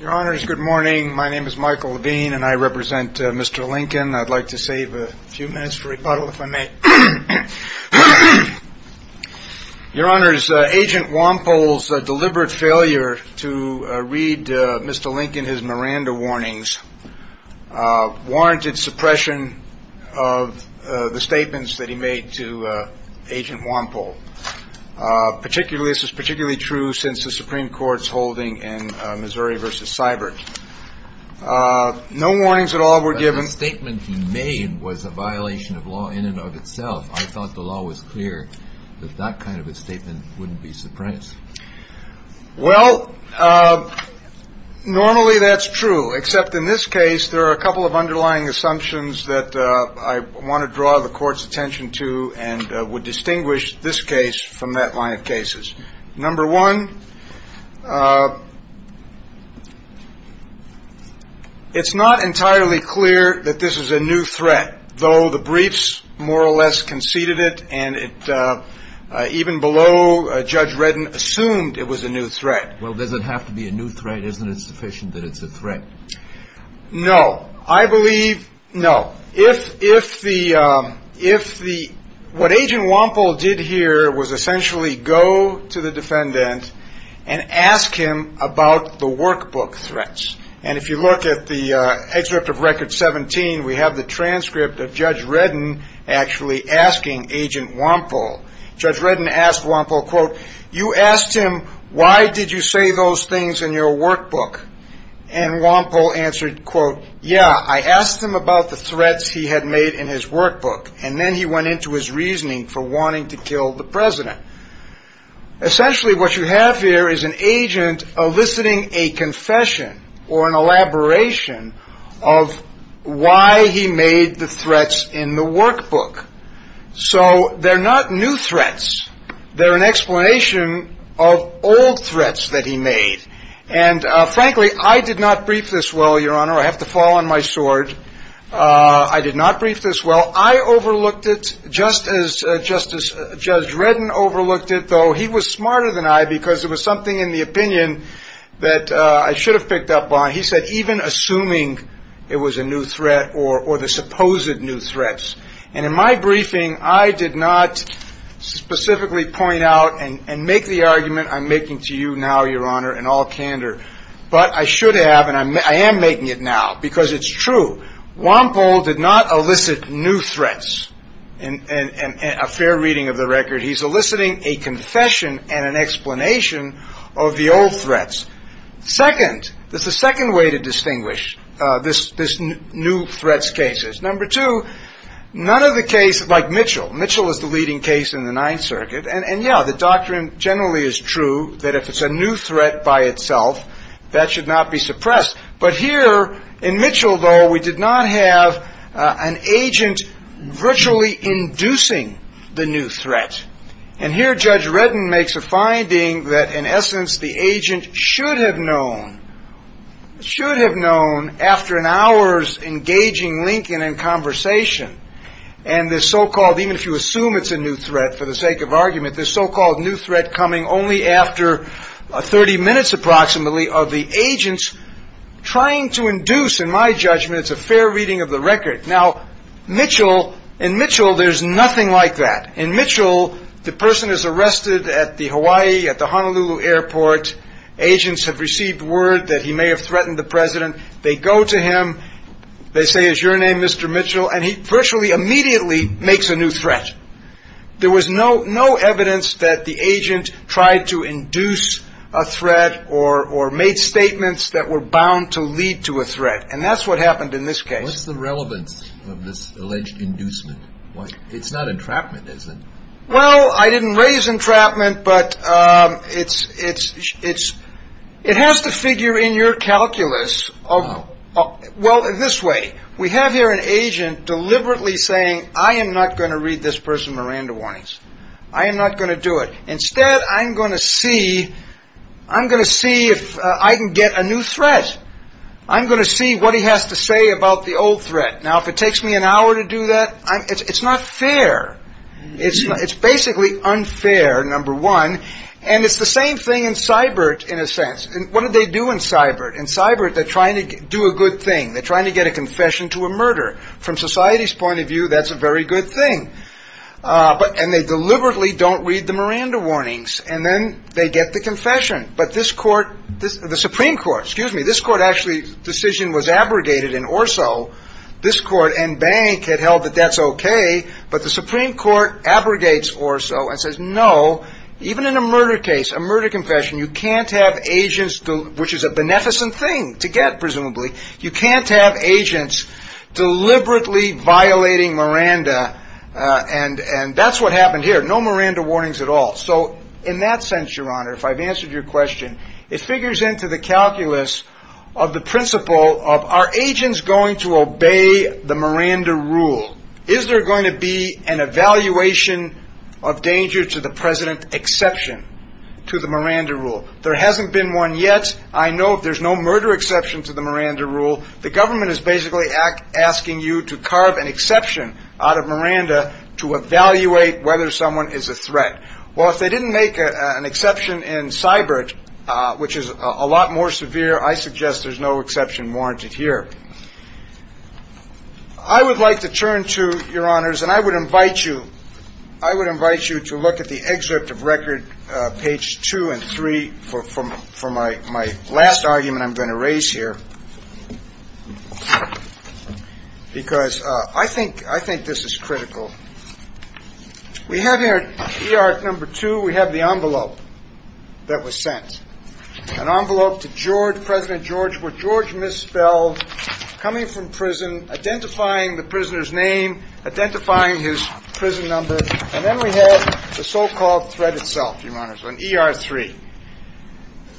Your honors, good morning. My name is Michael Levine and I represent Mr. Lincoln. I'd like to save a few minutes for rebuttal if I may. Your honors, Agent Wampole's deliberate failure to read Mr. Lincoln his Miranda warnings warranted suppression of the statements that he made to Agent Wampole. Particularly, this is particularly true since the Supreme Court's holding in Missouri v. Seibert. No warnings at all were given. But the statement he made was a violation of law in and of itself. I thought the law was clear that that kind of a statement wouldn't be suppressed. Well, normally that's true, except in this case there are a couple of underlying assumptions that I want to draw the attention to and would distinguish this case from that line of cases. Number one, it's not entirely clear that this is a new threat, though the briefs more or less conceded it, and even below, Judge Reddin assumed it was a new threat. Well, does it have to be a new threat? Isn't it sufficient that it's a No. What Agent Wampole did here was essentially go to the defendant and ask him about the workbook threats. And if you look at the excerpt of Record 17, we have the transcript of Judge Reddin actually asking Agent Wampole. Judge Reddin asked Wampole, quote, you asked him, why did you say those things in your workbook? And Wampole answered, quote, yeah, I asked him about the threats he had made in his workbook. And then he went into his reasoning for wanting to kill the president. Essentially, what you have here is an agent eliciting a confession or an elaboration of why he made the threats in the workbook. So they're not new threats. They're an explanation of old threats that he made. And frankly, I did not brief this well, Your Honor. I have to fall on my sword. I did not brief this well. I overlooked it just as Justice Judge Reddin overlooked it, though he was smarter than I because it was something in the opinion that I should have picked up on. He said even assuming it was a new threat or the supposed new threats. And in my briefing, I did not specifically point out and make the argument I'm making to you now, Your Honor, in all candor. But I should have and I am making it now because it's true. Wampole did not elicit new threats. And a fair reading of the record, he's eliciting a confession and an explanation of the old threats. Second, there's a second way to Ninth Circuit. And yeah, the doctrine generally is true that if it's a new threat by itself, that should not be suppressed. But here in Mitchell, though, we did not have an agent virtually inducing the new threat. And here Judge Reddin makes a finding that in essence, the agent should have known, should have known after an hour's engaging Lincoln in conversation. And the so-called even if you assume it's a new threat for the sake of argument, the so-called new threat coming only after 30 minutes approximately of the agents trying to induce, in my judgment, it's a fair reading of the record. Now, Mitchell, in Mitchell, there's nothing like that. In Mitchell, the person is arrested at the Hawaii, at the Honolulu Airport. Agents have received word that he may have threatened the president. They go to him. They say, is your name Mr. Mitchell? And he virtually immediately makes a new threat. There was no no evidence that the agent tried to induce a threat or or made statements that were bound to lead to a threat. And that's what happened in this case. What's the relevance of this alleged inducement? It's not entrapment, is it? Well, I didn't raise entrapment, but it's it's it's it has to figure in your calculus of. Well, this way, we have here an agent deliberately saying, I am not going to read this person Miranda warnings. I am not going to do it. Instead, I'm going to see I'm going to see if I can get a new threat. I'm going to see what he has to say about the old threat. Now, if it takes me an hour to do that, it's not fair. It's it's basically unfair, number one. And it's the same thing in Seibert, in a sense. And what did they do in Seibert and Seibert? They're trying to do a good thing. They're trying to get a confession to a murder from society's point of view. That's a very good thing. But and they deliberately don't read the Miranda warnings. And then they get the confession. But this court, the Supreme Court, excuse me, this court actually decision was abrogated in Orso. This court and bank had held that that's OK. But the Supreme Court abrogates Orso and says, no, even in a murder case, a murder confession, you can't have agents, which is a beneficent thing to get. Presumably, you can't have agents deliberately violating Miranda. And and that's what happened here. No Miranda warnings at all. So in that sense, Your Honor, if I've answered your question, it figures into the calculus of the principle of our agents going to obey the Miranda rule. Is there going to be an evaluation of danger to the president exception to the Miranda rule? There hasn't been one yet. I know there's no murder exception to the Miranda rule. The government is basically asking you to carve an exception out of Miranda to evaluate whether someone is a which is a lot more severe. I suggest there's no exception warranted here. I would like to turn to your honors and I would invite you. I would invite you to look at the excerpt of record page two and three for my my last argument I'm going to raise here because I think I think this is critical. We have here, E.R. number two, we have the envelope that was sent, an envelope to George, President George, where George misspelled coming from prison, identifying the prisoner's name, identifying his prison number. And then we have the so-called threat itself, Your Honor, on E.R. three.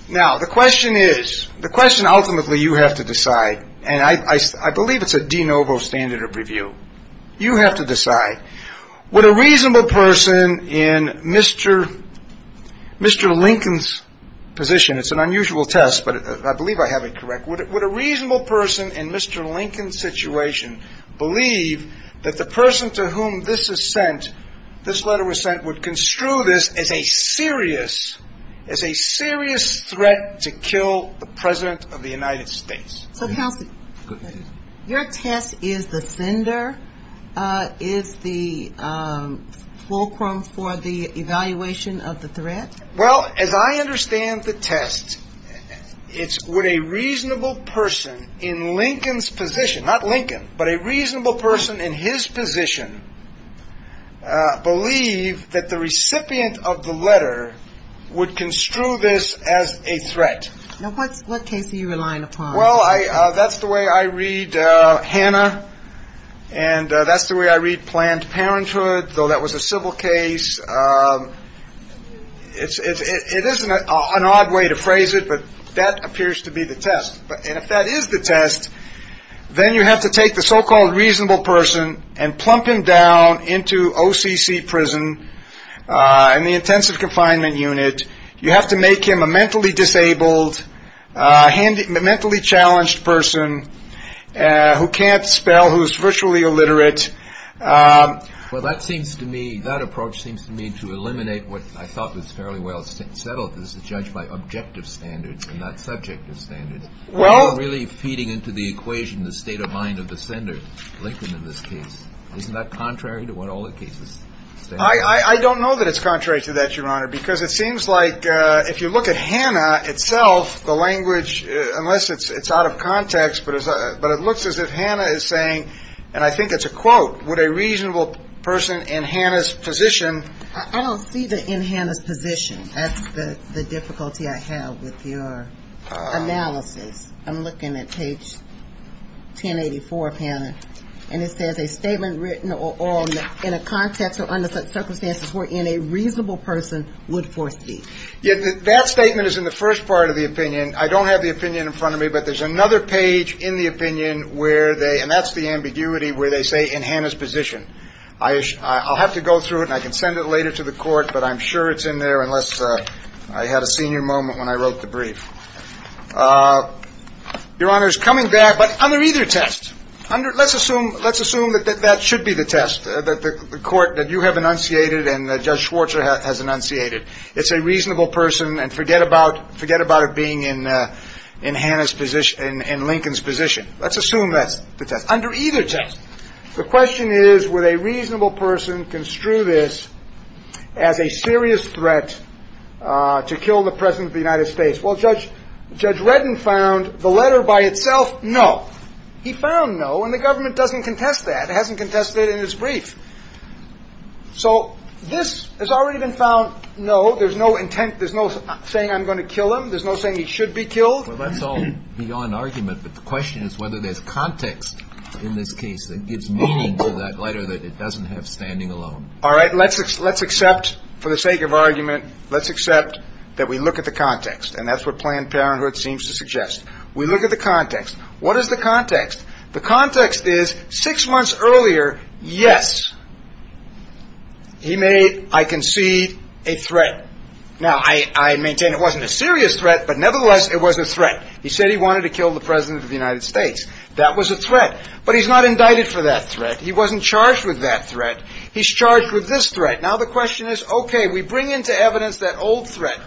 Now, the question is the question ultimately you have to decide, and I believe it's a de you. You have to decide. Would a reasonable person in Mr. Mr. Lincoln's position, it's an unusual test, but I believe I have it correct. Would it would a reasonable person in Mr. Lincoln's situation believe that the person to whom this is sent, this letter was sent, would lender is the fulcrum for the evaluation of the threat? Well, as I understand the test, it's what a reasonable person in Lincoln's position, not Lincoln, but a reasonable person in his position, believe that the recipient of the letter would construe this as a threat. Now, what's what case are you relying upon? Well, I that's the way I read Hannah and that's the way I read Planned Parenthood, though that was a civil case. It's it isn't an odd way to phrase it, but that appears to be the test. But if that is the test, then you have to take the so-called reasonable person and plump him down into OCC prison and the intensive confinement unit. You have to make him a mentally disabled, mentally challenged person who can't spell, who's virtually illiterate. Well, that seems to me that approach seems to me to eliminate what I thought was fairly well settled as a judge by objective standards and not subjective standards. Well, really feeding into the equation, the state of mind of the sender, Lincoln, in this case, isn't that contrary to what all the cases say? I don't know that it's contrary to that, Your Honor, because it seems like if you look at Hannah itself, the language, unless it's it's out of context, but it's but it looks as if Hannah is saying and I think it's a quote, would a reasonable person in Hannah's position. I don't see that in Hannah's position. That's the difficulty I have with your analysis. I'm looking at page 1084 of Hannah and it says a statement written or in a context or under such circumstances where in a reasonable person would force to be. Yet that statement is in the first part of the opinion. I don't have the opinion in front of me, but there's another page in the opinion where they and that's the ambiguity where they say in Hannah's position. I'll have to go through it and I can send it later to the court, but I'm sure it's in there unless I had a senior moment when I wrote the brief. Your Honor's coming back. But under either test, under let's assume let's assume that that should be the test that the court that you have enunciated and Judge Schwarzer has enunciated. It's a reasonable person. And forget about forget about it being in in Hannah's position and Lincoln's position. Let's assume that's the test under either test. The question is, with a reasonable person, construe this as a serious threat to kill the president of the United States. Well, Judge Judge Redden found the letter by itself. No, he found no. And the government doesn't contest that. It hasn't contested in his brief. So this has already been found. No, there's no intent. There's no saying I'm going to kill him. There's no saying he should be killed. Well, that's all beyond argument. But the question is whether there's context in this case that gives meaning to that letter that it doesn't have standing alone. All right. Let's let's accept for the sake of argument. Let's accept that we look at the context. And that's what Planned Parenthood seems to suggest. We look at the context. What is the context? The context is six months earlier. Yes. He may. I can see a threat. Now, I maintain it wasn't a serious threat, but nevertheless, it was a threat. He said he wanted to kill the president of the United States. That was a threat. But he's not indicted for that threat. He wasn't charged with that threat. He's charged with this threat. Now, the question is, OK, we bring into evidence that old threat.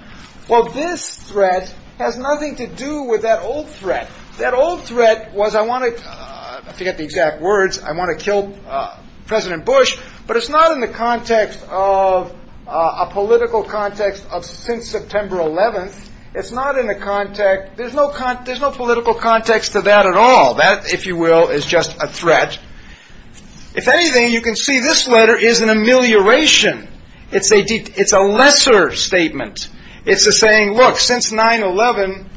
Well, this threat has nothing to do with that old threat. That old threat was I wanted to get the exact words. I want to kill President Bush. But it's not in the context of a political context of since September 11th. It's not in the context. There's no there's no political context to that at all. That, if you will, is just a threat. If anything, you can see this letter is an amelioration. It's a it's a lesser statement. It's a saying, look, since 9-11,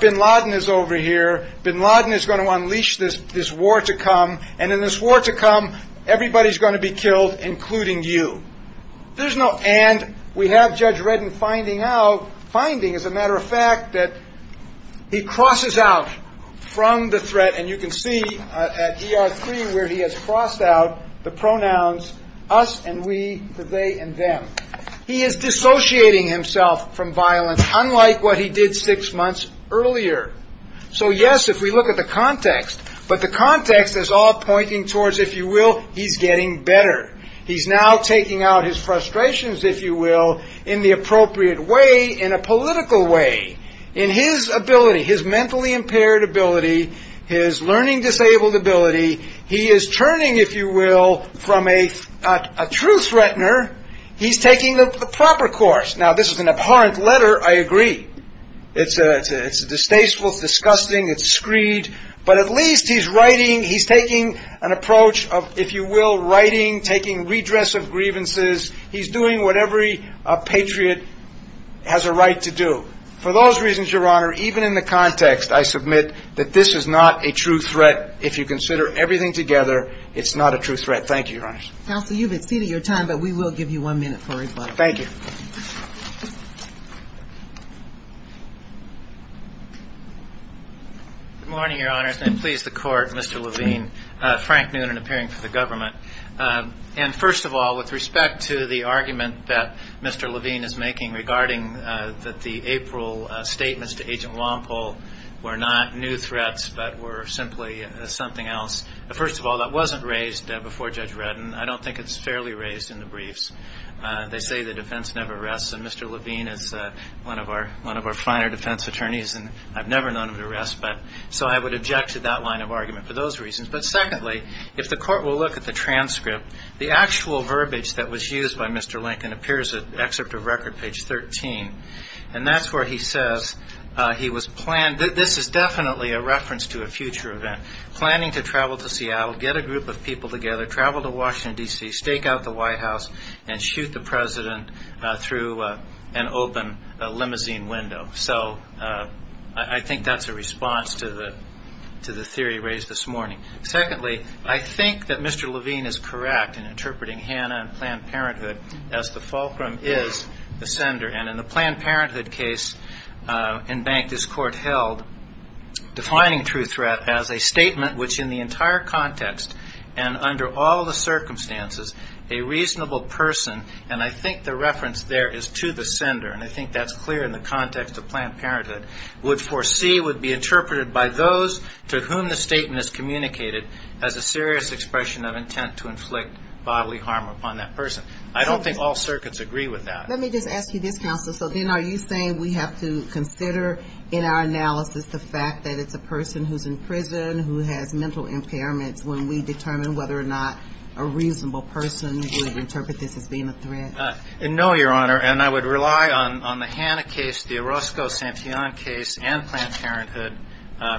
bin Laden is over here. Bin Laden is going to unleash this this war to come. And in this war to come, everybody's going to be killed, including you. There's no. And we have Judge Redden finding out finding, as a matter of fact, that he crosses out from the threat. And you can see where he has crossed out the pronouns us and we, they and them. He is dissociating himself from violence, unlike what he did six months earlier. So, yes, if we look at the context, but the context is all pointing towards, if you will, he's getting better. He's now taking out his frustrations, if you will, in the appropriate way, in a political way, in his ability, his mentally impaired ability, his learning disabled ability. He is turning, if you will, from a a true threatener. He's taking the proper course. Now, this is an abhorrent letter. I agree. It's a it's a distasteful, disgusting. It's screed. But at least he's writing. He's taking an approach of, if you will, writing, taking redress of grievances. He's doing what every patriot has a right to do. For those reasons, Your Honor, even in the context, I submit that this is not a true threat. If you consider everything together, it's not a true threat. Thank you, Your Honor. Counsel, you've exceeded your time, but we will give you one minute for rebuttal. Thank you. Good morning, Your Honors, and please the court. Mr. Levine, Frank Noonan appearing for the government. And first of all, with respect to the argument that Mr. Levine is making regarding that, the April statements to Agent Walpole were not new threats, but were simply something else. First of all, that wasn't raised before Judge Redden. I don't think it's fairly raised in the briefs. They say the defense never rests. And Mr. Levine is one of our one of our finer defense attorneys. And I've never known him to rest. But so I would object to that line of argument for those reasons. But secondly, if the court will look at the transcript, the actual verbiage that was used by Mr. Lincoln appears at excerpt of record page 13. And that's where he says he was planned. This is definitely a reference to a future event, planning to travel to Seattle, get a group of people together, travel to Washington, D.C., stake out the White House and shoot the president through an open limousine window. So I think that's a response to the to the theory raised this morning. Secondly, I think that Mr. Levine is correct in interpreting Hannah and Planned Parenthood as the fulcrum is the sender. And in the Planned Parenthood case in Bank, this court held defining true threat as a statement which in the entire context and under all the circumstances, a reasonable person. And I think the reference there is to the sender. And I think that's clear in the context of Planned Parenthood would foresee would be interpreted by those to whom the statement is communicated as a serious expression of intent to inflict bodily harm upon that person. I don't think all circuits agree with that. Let me just ask you this, counsel. So then are you saying we have to consider in our analysis the fact that it's a person who's in prison, who has mental impairments when we determine whether or not a reasonable person would interpret this as being a threat? No, Your Honor. And I would rely on the Hannah case, the Orozco-Santillan case and Planned Parenthood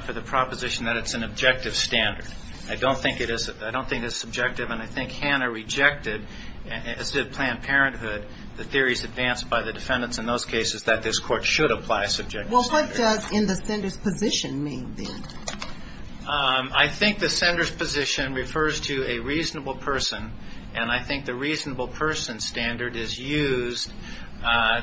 for the proposition that it's an objective standard. I don't think it is. I don't think it's subjective. And I think Hannah rejected, as did Planned Parenthood, the theories advanced by the defendants in those cases that this court should apply subjective standards. Well, what does in the sender's position mean then? I think the sender's position refers to a reasonable person. And I think the reasonable person standard is used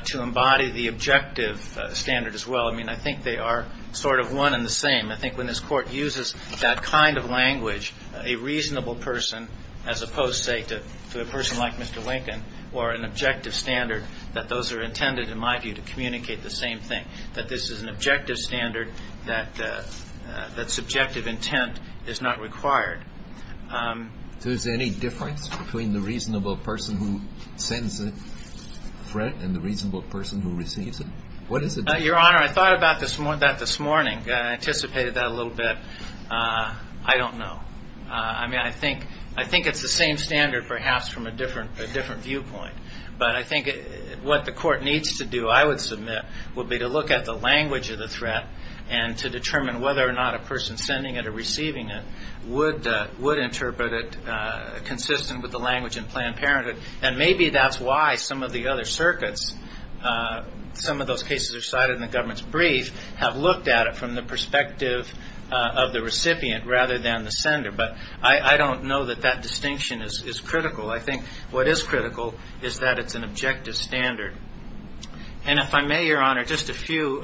to embody the objective standard as well. I mean, I think they are sort of one and the same. I think when this court uses that kind of language, a reasonable person, as opposed, say, to a person like Mr. Lincoln, or an objective standard, that those are intended, in my view, to communicate the same thing, that this is an objective standard, that subjective intent is not required. So is there any difference between the reasonable person who sends a threat and the reasonable person who receives it? What is the difference? Your Honor, I thought about that this morning, anticipated that a little bit. I don't know. I mean, I think it's the same standard, perhaps, from a different viewpoint. But I think what the court needs to do, I would submit, would be to look at the language of the threat and to determine whether or not a person sending it or receiving it would interpret it consistent with the language in Planned Parenthood. And maybe that's why some of the other circuits, some of those cases are cited in the government's brief, have looked at it from the perspective of the recipient rather than the sender. But I don't know that that distinction is critical. I think what is critical is that it's an objective standard. And if I may, Your Honor, just a few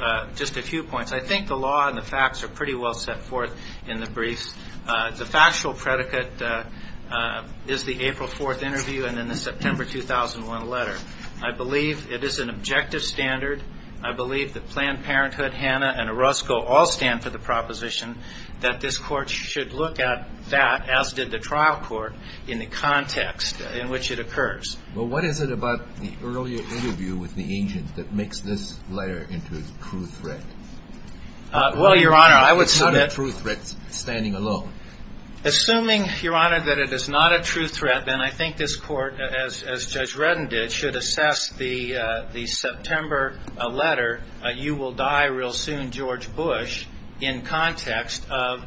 points. I think the law and the facts are pretty well set forth in the brief. The factual predicate is the April 4th interview and then the September 2001 letter. I believe it is an objective standard. I believe that Planned Parenthood, Hanna, and Orozco all stand for the proposition that this court should look at that, as did the trial court, in the context in which it occurs. Well, what is it about the earlier interview with the agent that makes this letter into a true threat? Well, Your Honor, I would submit... It's not a true threat standing alone. Assuming, Your Honor, that it is not a true threat, then I think this court, as Judge Redden did, should assess the September letter, you will die real soon, George Bush, in context of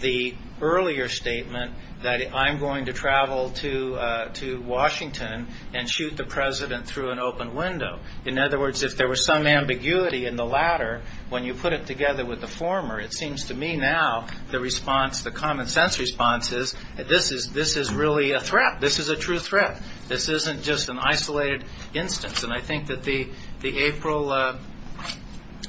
the earlier statement that I'm going to travel to Washington and shoot the president through an open window. In other words, if there was some ambiguity in the latter, when you put it together with the former, it seems to me now the response, the common sense response is, this is really a threat. This is a true threat. This isn't just an isolated instance. And I think that the April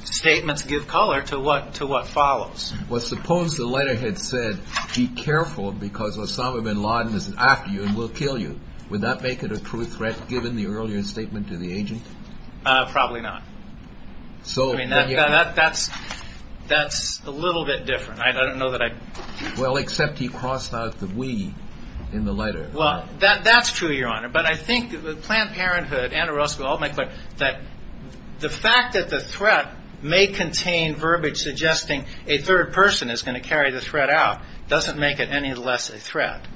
statements give color to what follows. Well, suppose the letter had said, be careful because Osama bin Laden is after you and will kill you. Would that make it a true threat given the earlier statement to the agent? Probably not. So that's a little bit different. I don't know that I... Well, except he crossed out the we in the letter. Well, that's true, Your Honor. But I think the Planned Parenthood and Orozco all make that the fact that the threat may contain verbiage suggesting a third person is going to carry the threat out doesn't make it any less a threat.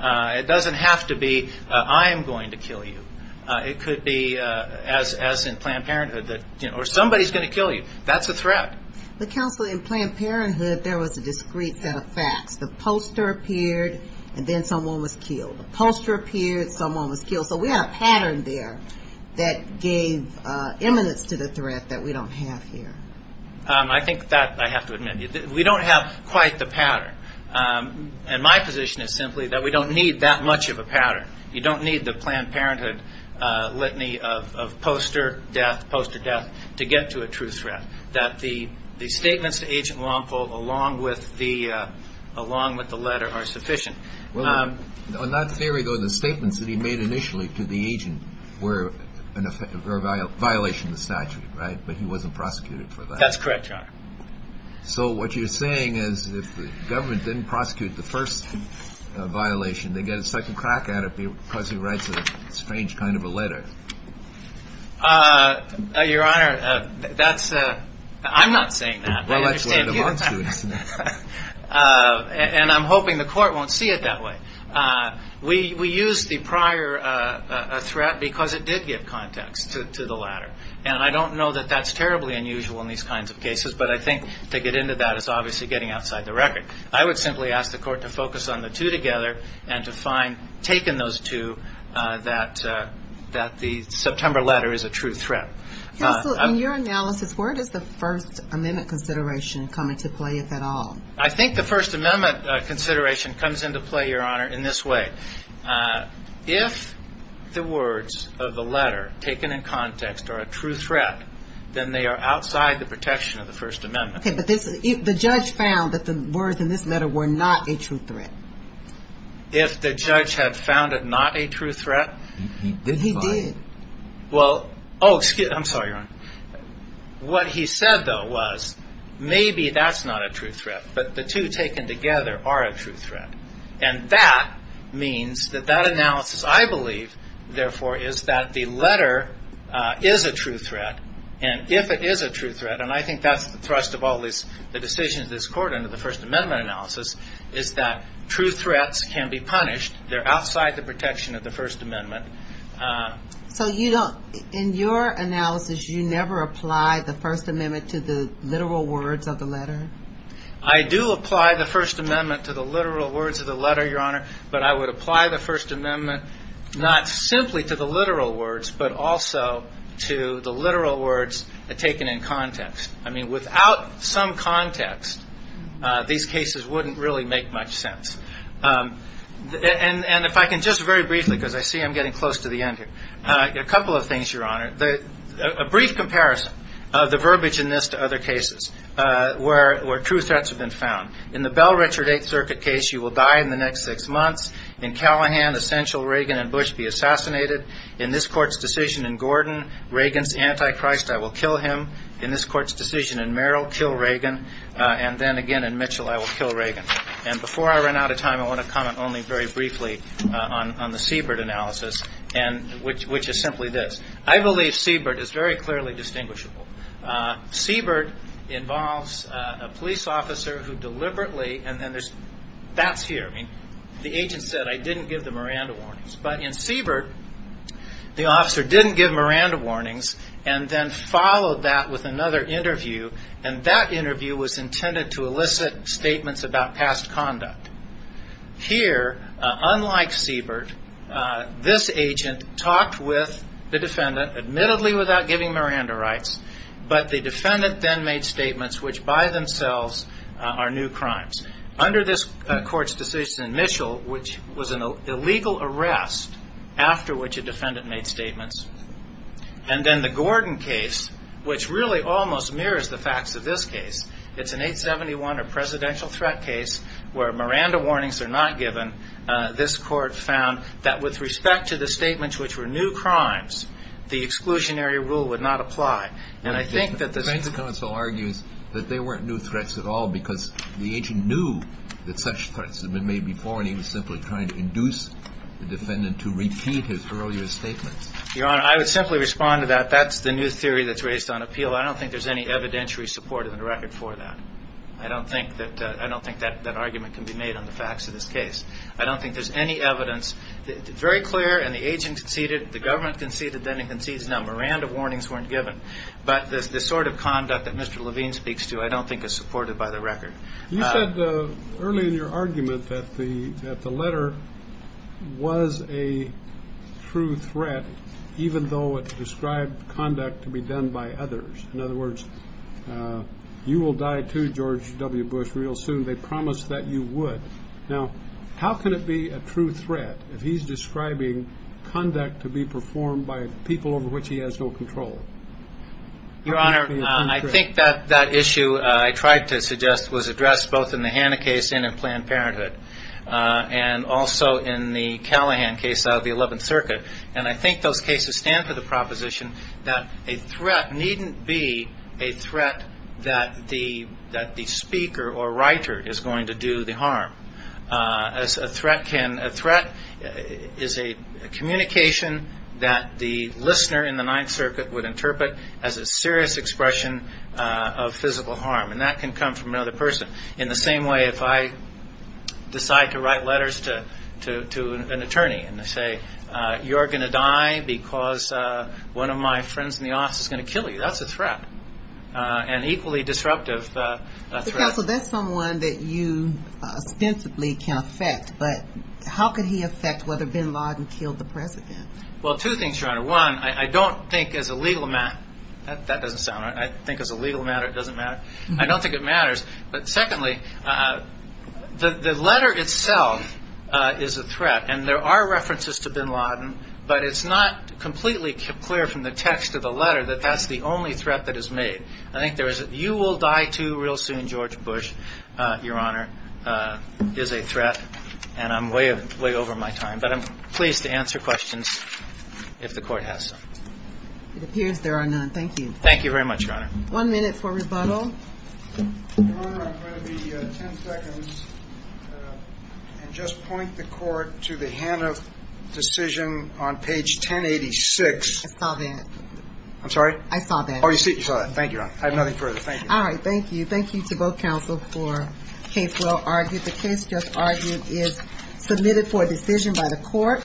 It doesn't have to be, I am going to kill you. It could be, as in Planned Parenthood, or somebody's going to kill you. That's a threat. But counsel, in Planned Parenthood, there was a discreet set of facts. The poster appeared and then someone was killed. The poster appeared, someone was killed. So we have a pattern there that gave eminence to the threat that we don't have here. I think that, I have to admit, we don't have quite the pattern. And my position is simply that we don't need that much of a pattern. You don't need the Planned Parenthood litany of poster death, poster death, to get to a true threat. That the statements to Agent Longpole, along with the letter, are sufficient. Well, on that theory, though, the statements that he made initially to the agent were a violation of the statute, right? But he wasn't prosecuted for that. That's correct, Your Honor. So what you're saying is if the government didn't prosecute the first violation, they get a second crack at it because he writes a strange kind of a letter. Your Honor, that's, I'm not saying that. Well, let's let him on to it. And I'm hoping the court won't see it that way. We used the prior threat because it did give context to the latter. And I don't know that that's terribly unusual in these kinds of cases. But I think to get into that is obviously getting outside the record. I would simply ask the court to focus on the two together and to find, taken those two, that the September letter is a true threat. Counsel, in your analysis, where does the First Amendment consideration come into play, if at all? I think the First Amendment consideration comes into play, Your Honor, in this way. If the words of the letter taken in context are a true threat, then they are outside the protection of the First Amendment. OK, but the judge found that the words in this letter were not a true threat. If the judge had found it not a true threat, he did. Well, oh, excuse me. I'm sorry, Your Honor. What he said, though, was maybe that's not a true threat, but the two taken together are a true threat. And that means that that analysis, I believe, therefore, is that the letter is a true threat. And if it is a true threat, and I think that's the thrust of all the decisions of this court under the First Amendment analysis, is that true threats can be punished. They're outside the protection of the First Amendment. So you don't, in your analysis, you never apply the First Amendment to the literal words of the letter? I do apply the First Amendment to the literal words of the letter, Your Honor. But I would apply the First Amendment not simply to the literal words, but also to the literal words taken in context. I mean, without some context, these cases wouldn't really make much sense. And if I can just very briefly, because I see I'm getting close to the end here, a couple of things, Your Honor. A brief comparison of the verbiage in this to other cases where true threats have been found. In the Bell Richard Eighth Circuit case, you will die in the next six months. In Callahan, essential Reagan and Bush be assassinated. In this court's decision in Gordon, Reagan's anti-Christ, I will kill him. In this court's decision in Merrill, kill Reagan. And then again in Mitchell, I will kill Reagan. And before I run out of time, I want to comment only very briefly on the Siebert analysis, which is simply this. I believe Siebert is very clearly distinguishable. Siebert involves a police officer who deliberately, and then there's, that's here. The agent said, I didn't give the Miranda warnings. But in Siebert, the officer didn't give Miranda warnings and then followed that with another interview. And that interview was intended to elicit statements about past conduct. Here, unlike Siebert, this agent talked with the defendant, admittedly without giving Miranda rights. But the defendant then made statements which by themselves are new crimes. Under this court's decision in Mitchell, which was an illegal arrest after which a defendant made statements. And then the Gordon case, which really almost mirrors the facts of this case. It's an 871, a presidential threat case where Miranda warnings are not given. This court found that with respect to the statements which were new crimes, the exclusionary rule would not apply. And I think that the defense counsel argues that they weren't new threats at all because the agent knew that such threats had been made before. And he was simply trying to induce the defendant to repeat his earlier statements. Your Honor, I would simply respond to that. That's the new theory that's raised on appeal. I don't think there's any evidentiary support in the record for that. I don't think that I don't think that that argument can be made on the facts of this case. I don't think there's any evidence. Very clear. And the agent conceded, the government conceded, then he concedes. Now, Miranda warnings weren't given. But the sort of conduct that Mr. Levine speaks to, I don't think is supported by the record. You said early in your argument that the letter was a true threat, even though it described conduct to be done by others. In other words, you will die too, George W. Bush, real soon. They promised that you would. Now, how can it be a true threat if he's describing conduct to be performed by people over which he has no control? Your Honor, I think that that issue I tried to suggest was addressed both in the Hannah case and in Planned Parenthood and also in the Callahan case out of the 11th Circuit. And I think those cases stand for the proposition that a threat needn't be a threat that the that the speaker or writer is going to do the harm. As a threat can a threat is a communication that the listener in the Ninth Circuit would interpret as a serious expression of physical harm. And that can come from another person in the same way. If I decide to write letters to to to an attorney and say, you're going to die because one of my friends in the office is going to kill you. That's a threat and equally disruptive. So that's someone that you ostensibly can affect. But how could he affect whether bin Laden killed the president? Well, two things, Your Honor. One, I don't think as a legal matter that that doesn't sound right. I think as a legal matter, it doesn't matter. I don't think it matters. But secondly, the letter itself is a threat. And there are references to bin Laden, but it's not completely clear from the text of the letter that that's the only threat that is made. I think there is. You will die, too, real soon. George Bush, Your Honor, is a threat. And I'm way, way over my time, but I'm pleased to answer questions if the court has some. It appears there are none. Thank you. Thank you very much. One minute for rebuttal. Your Honor, I'm going to be 10 seconds and just point the court to the Hannaf decision on page 1086. I saw that. I'm sorry? I saw that. Oh, you saw that. Thank you, Your Honor. I have nothing further. Thank you. All right. Thank you. Thank you to both counsel for a case well argued. The case just argued is submitted for a decision by the court.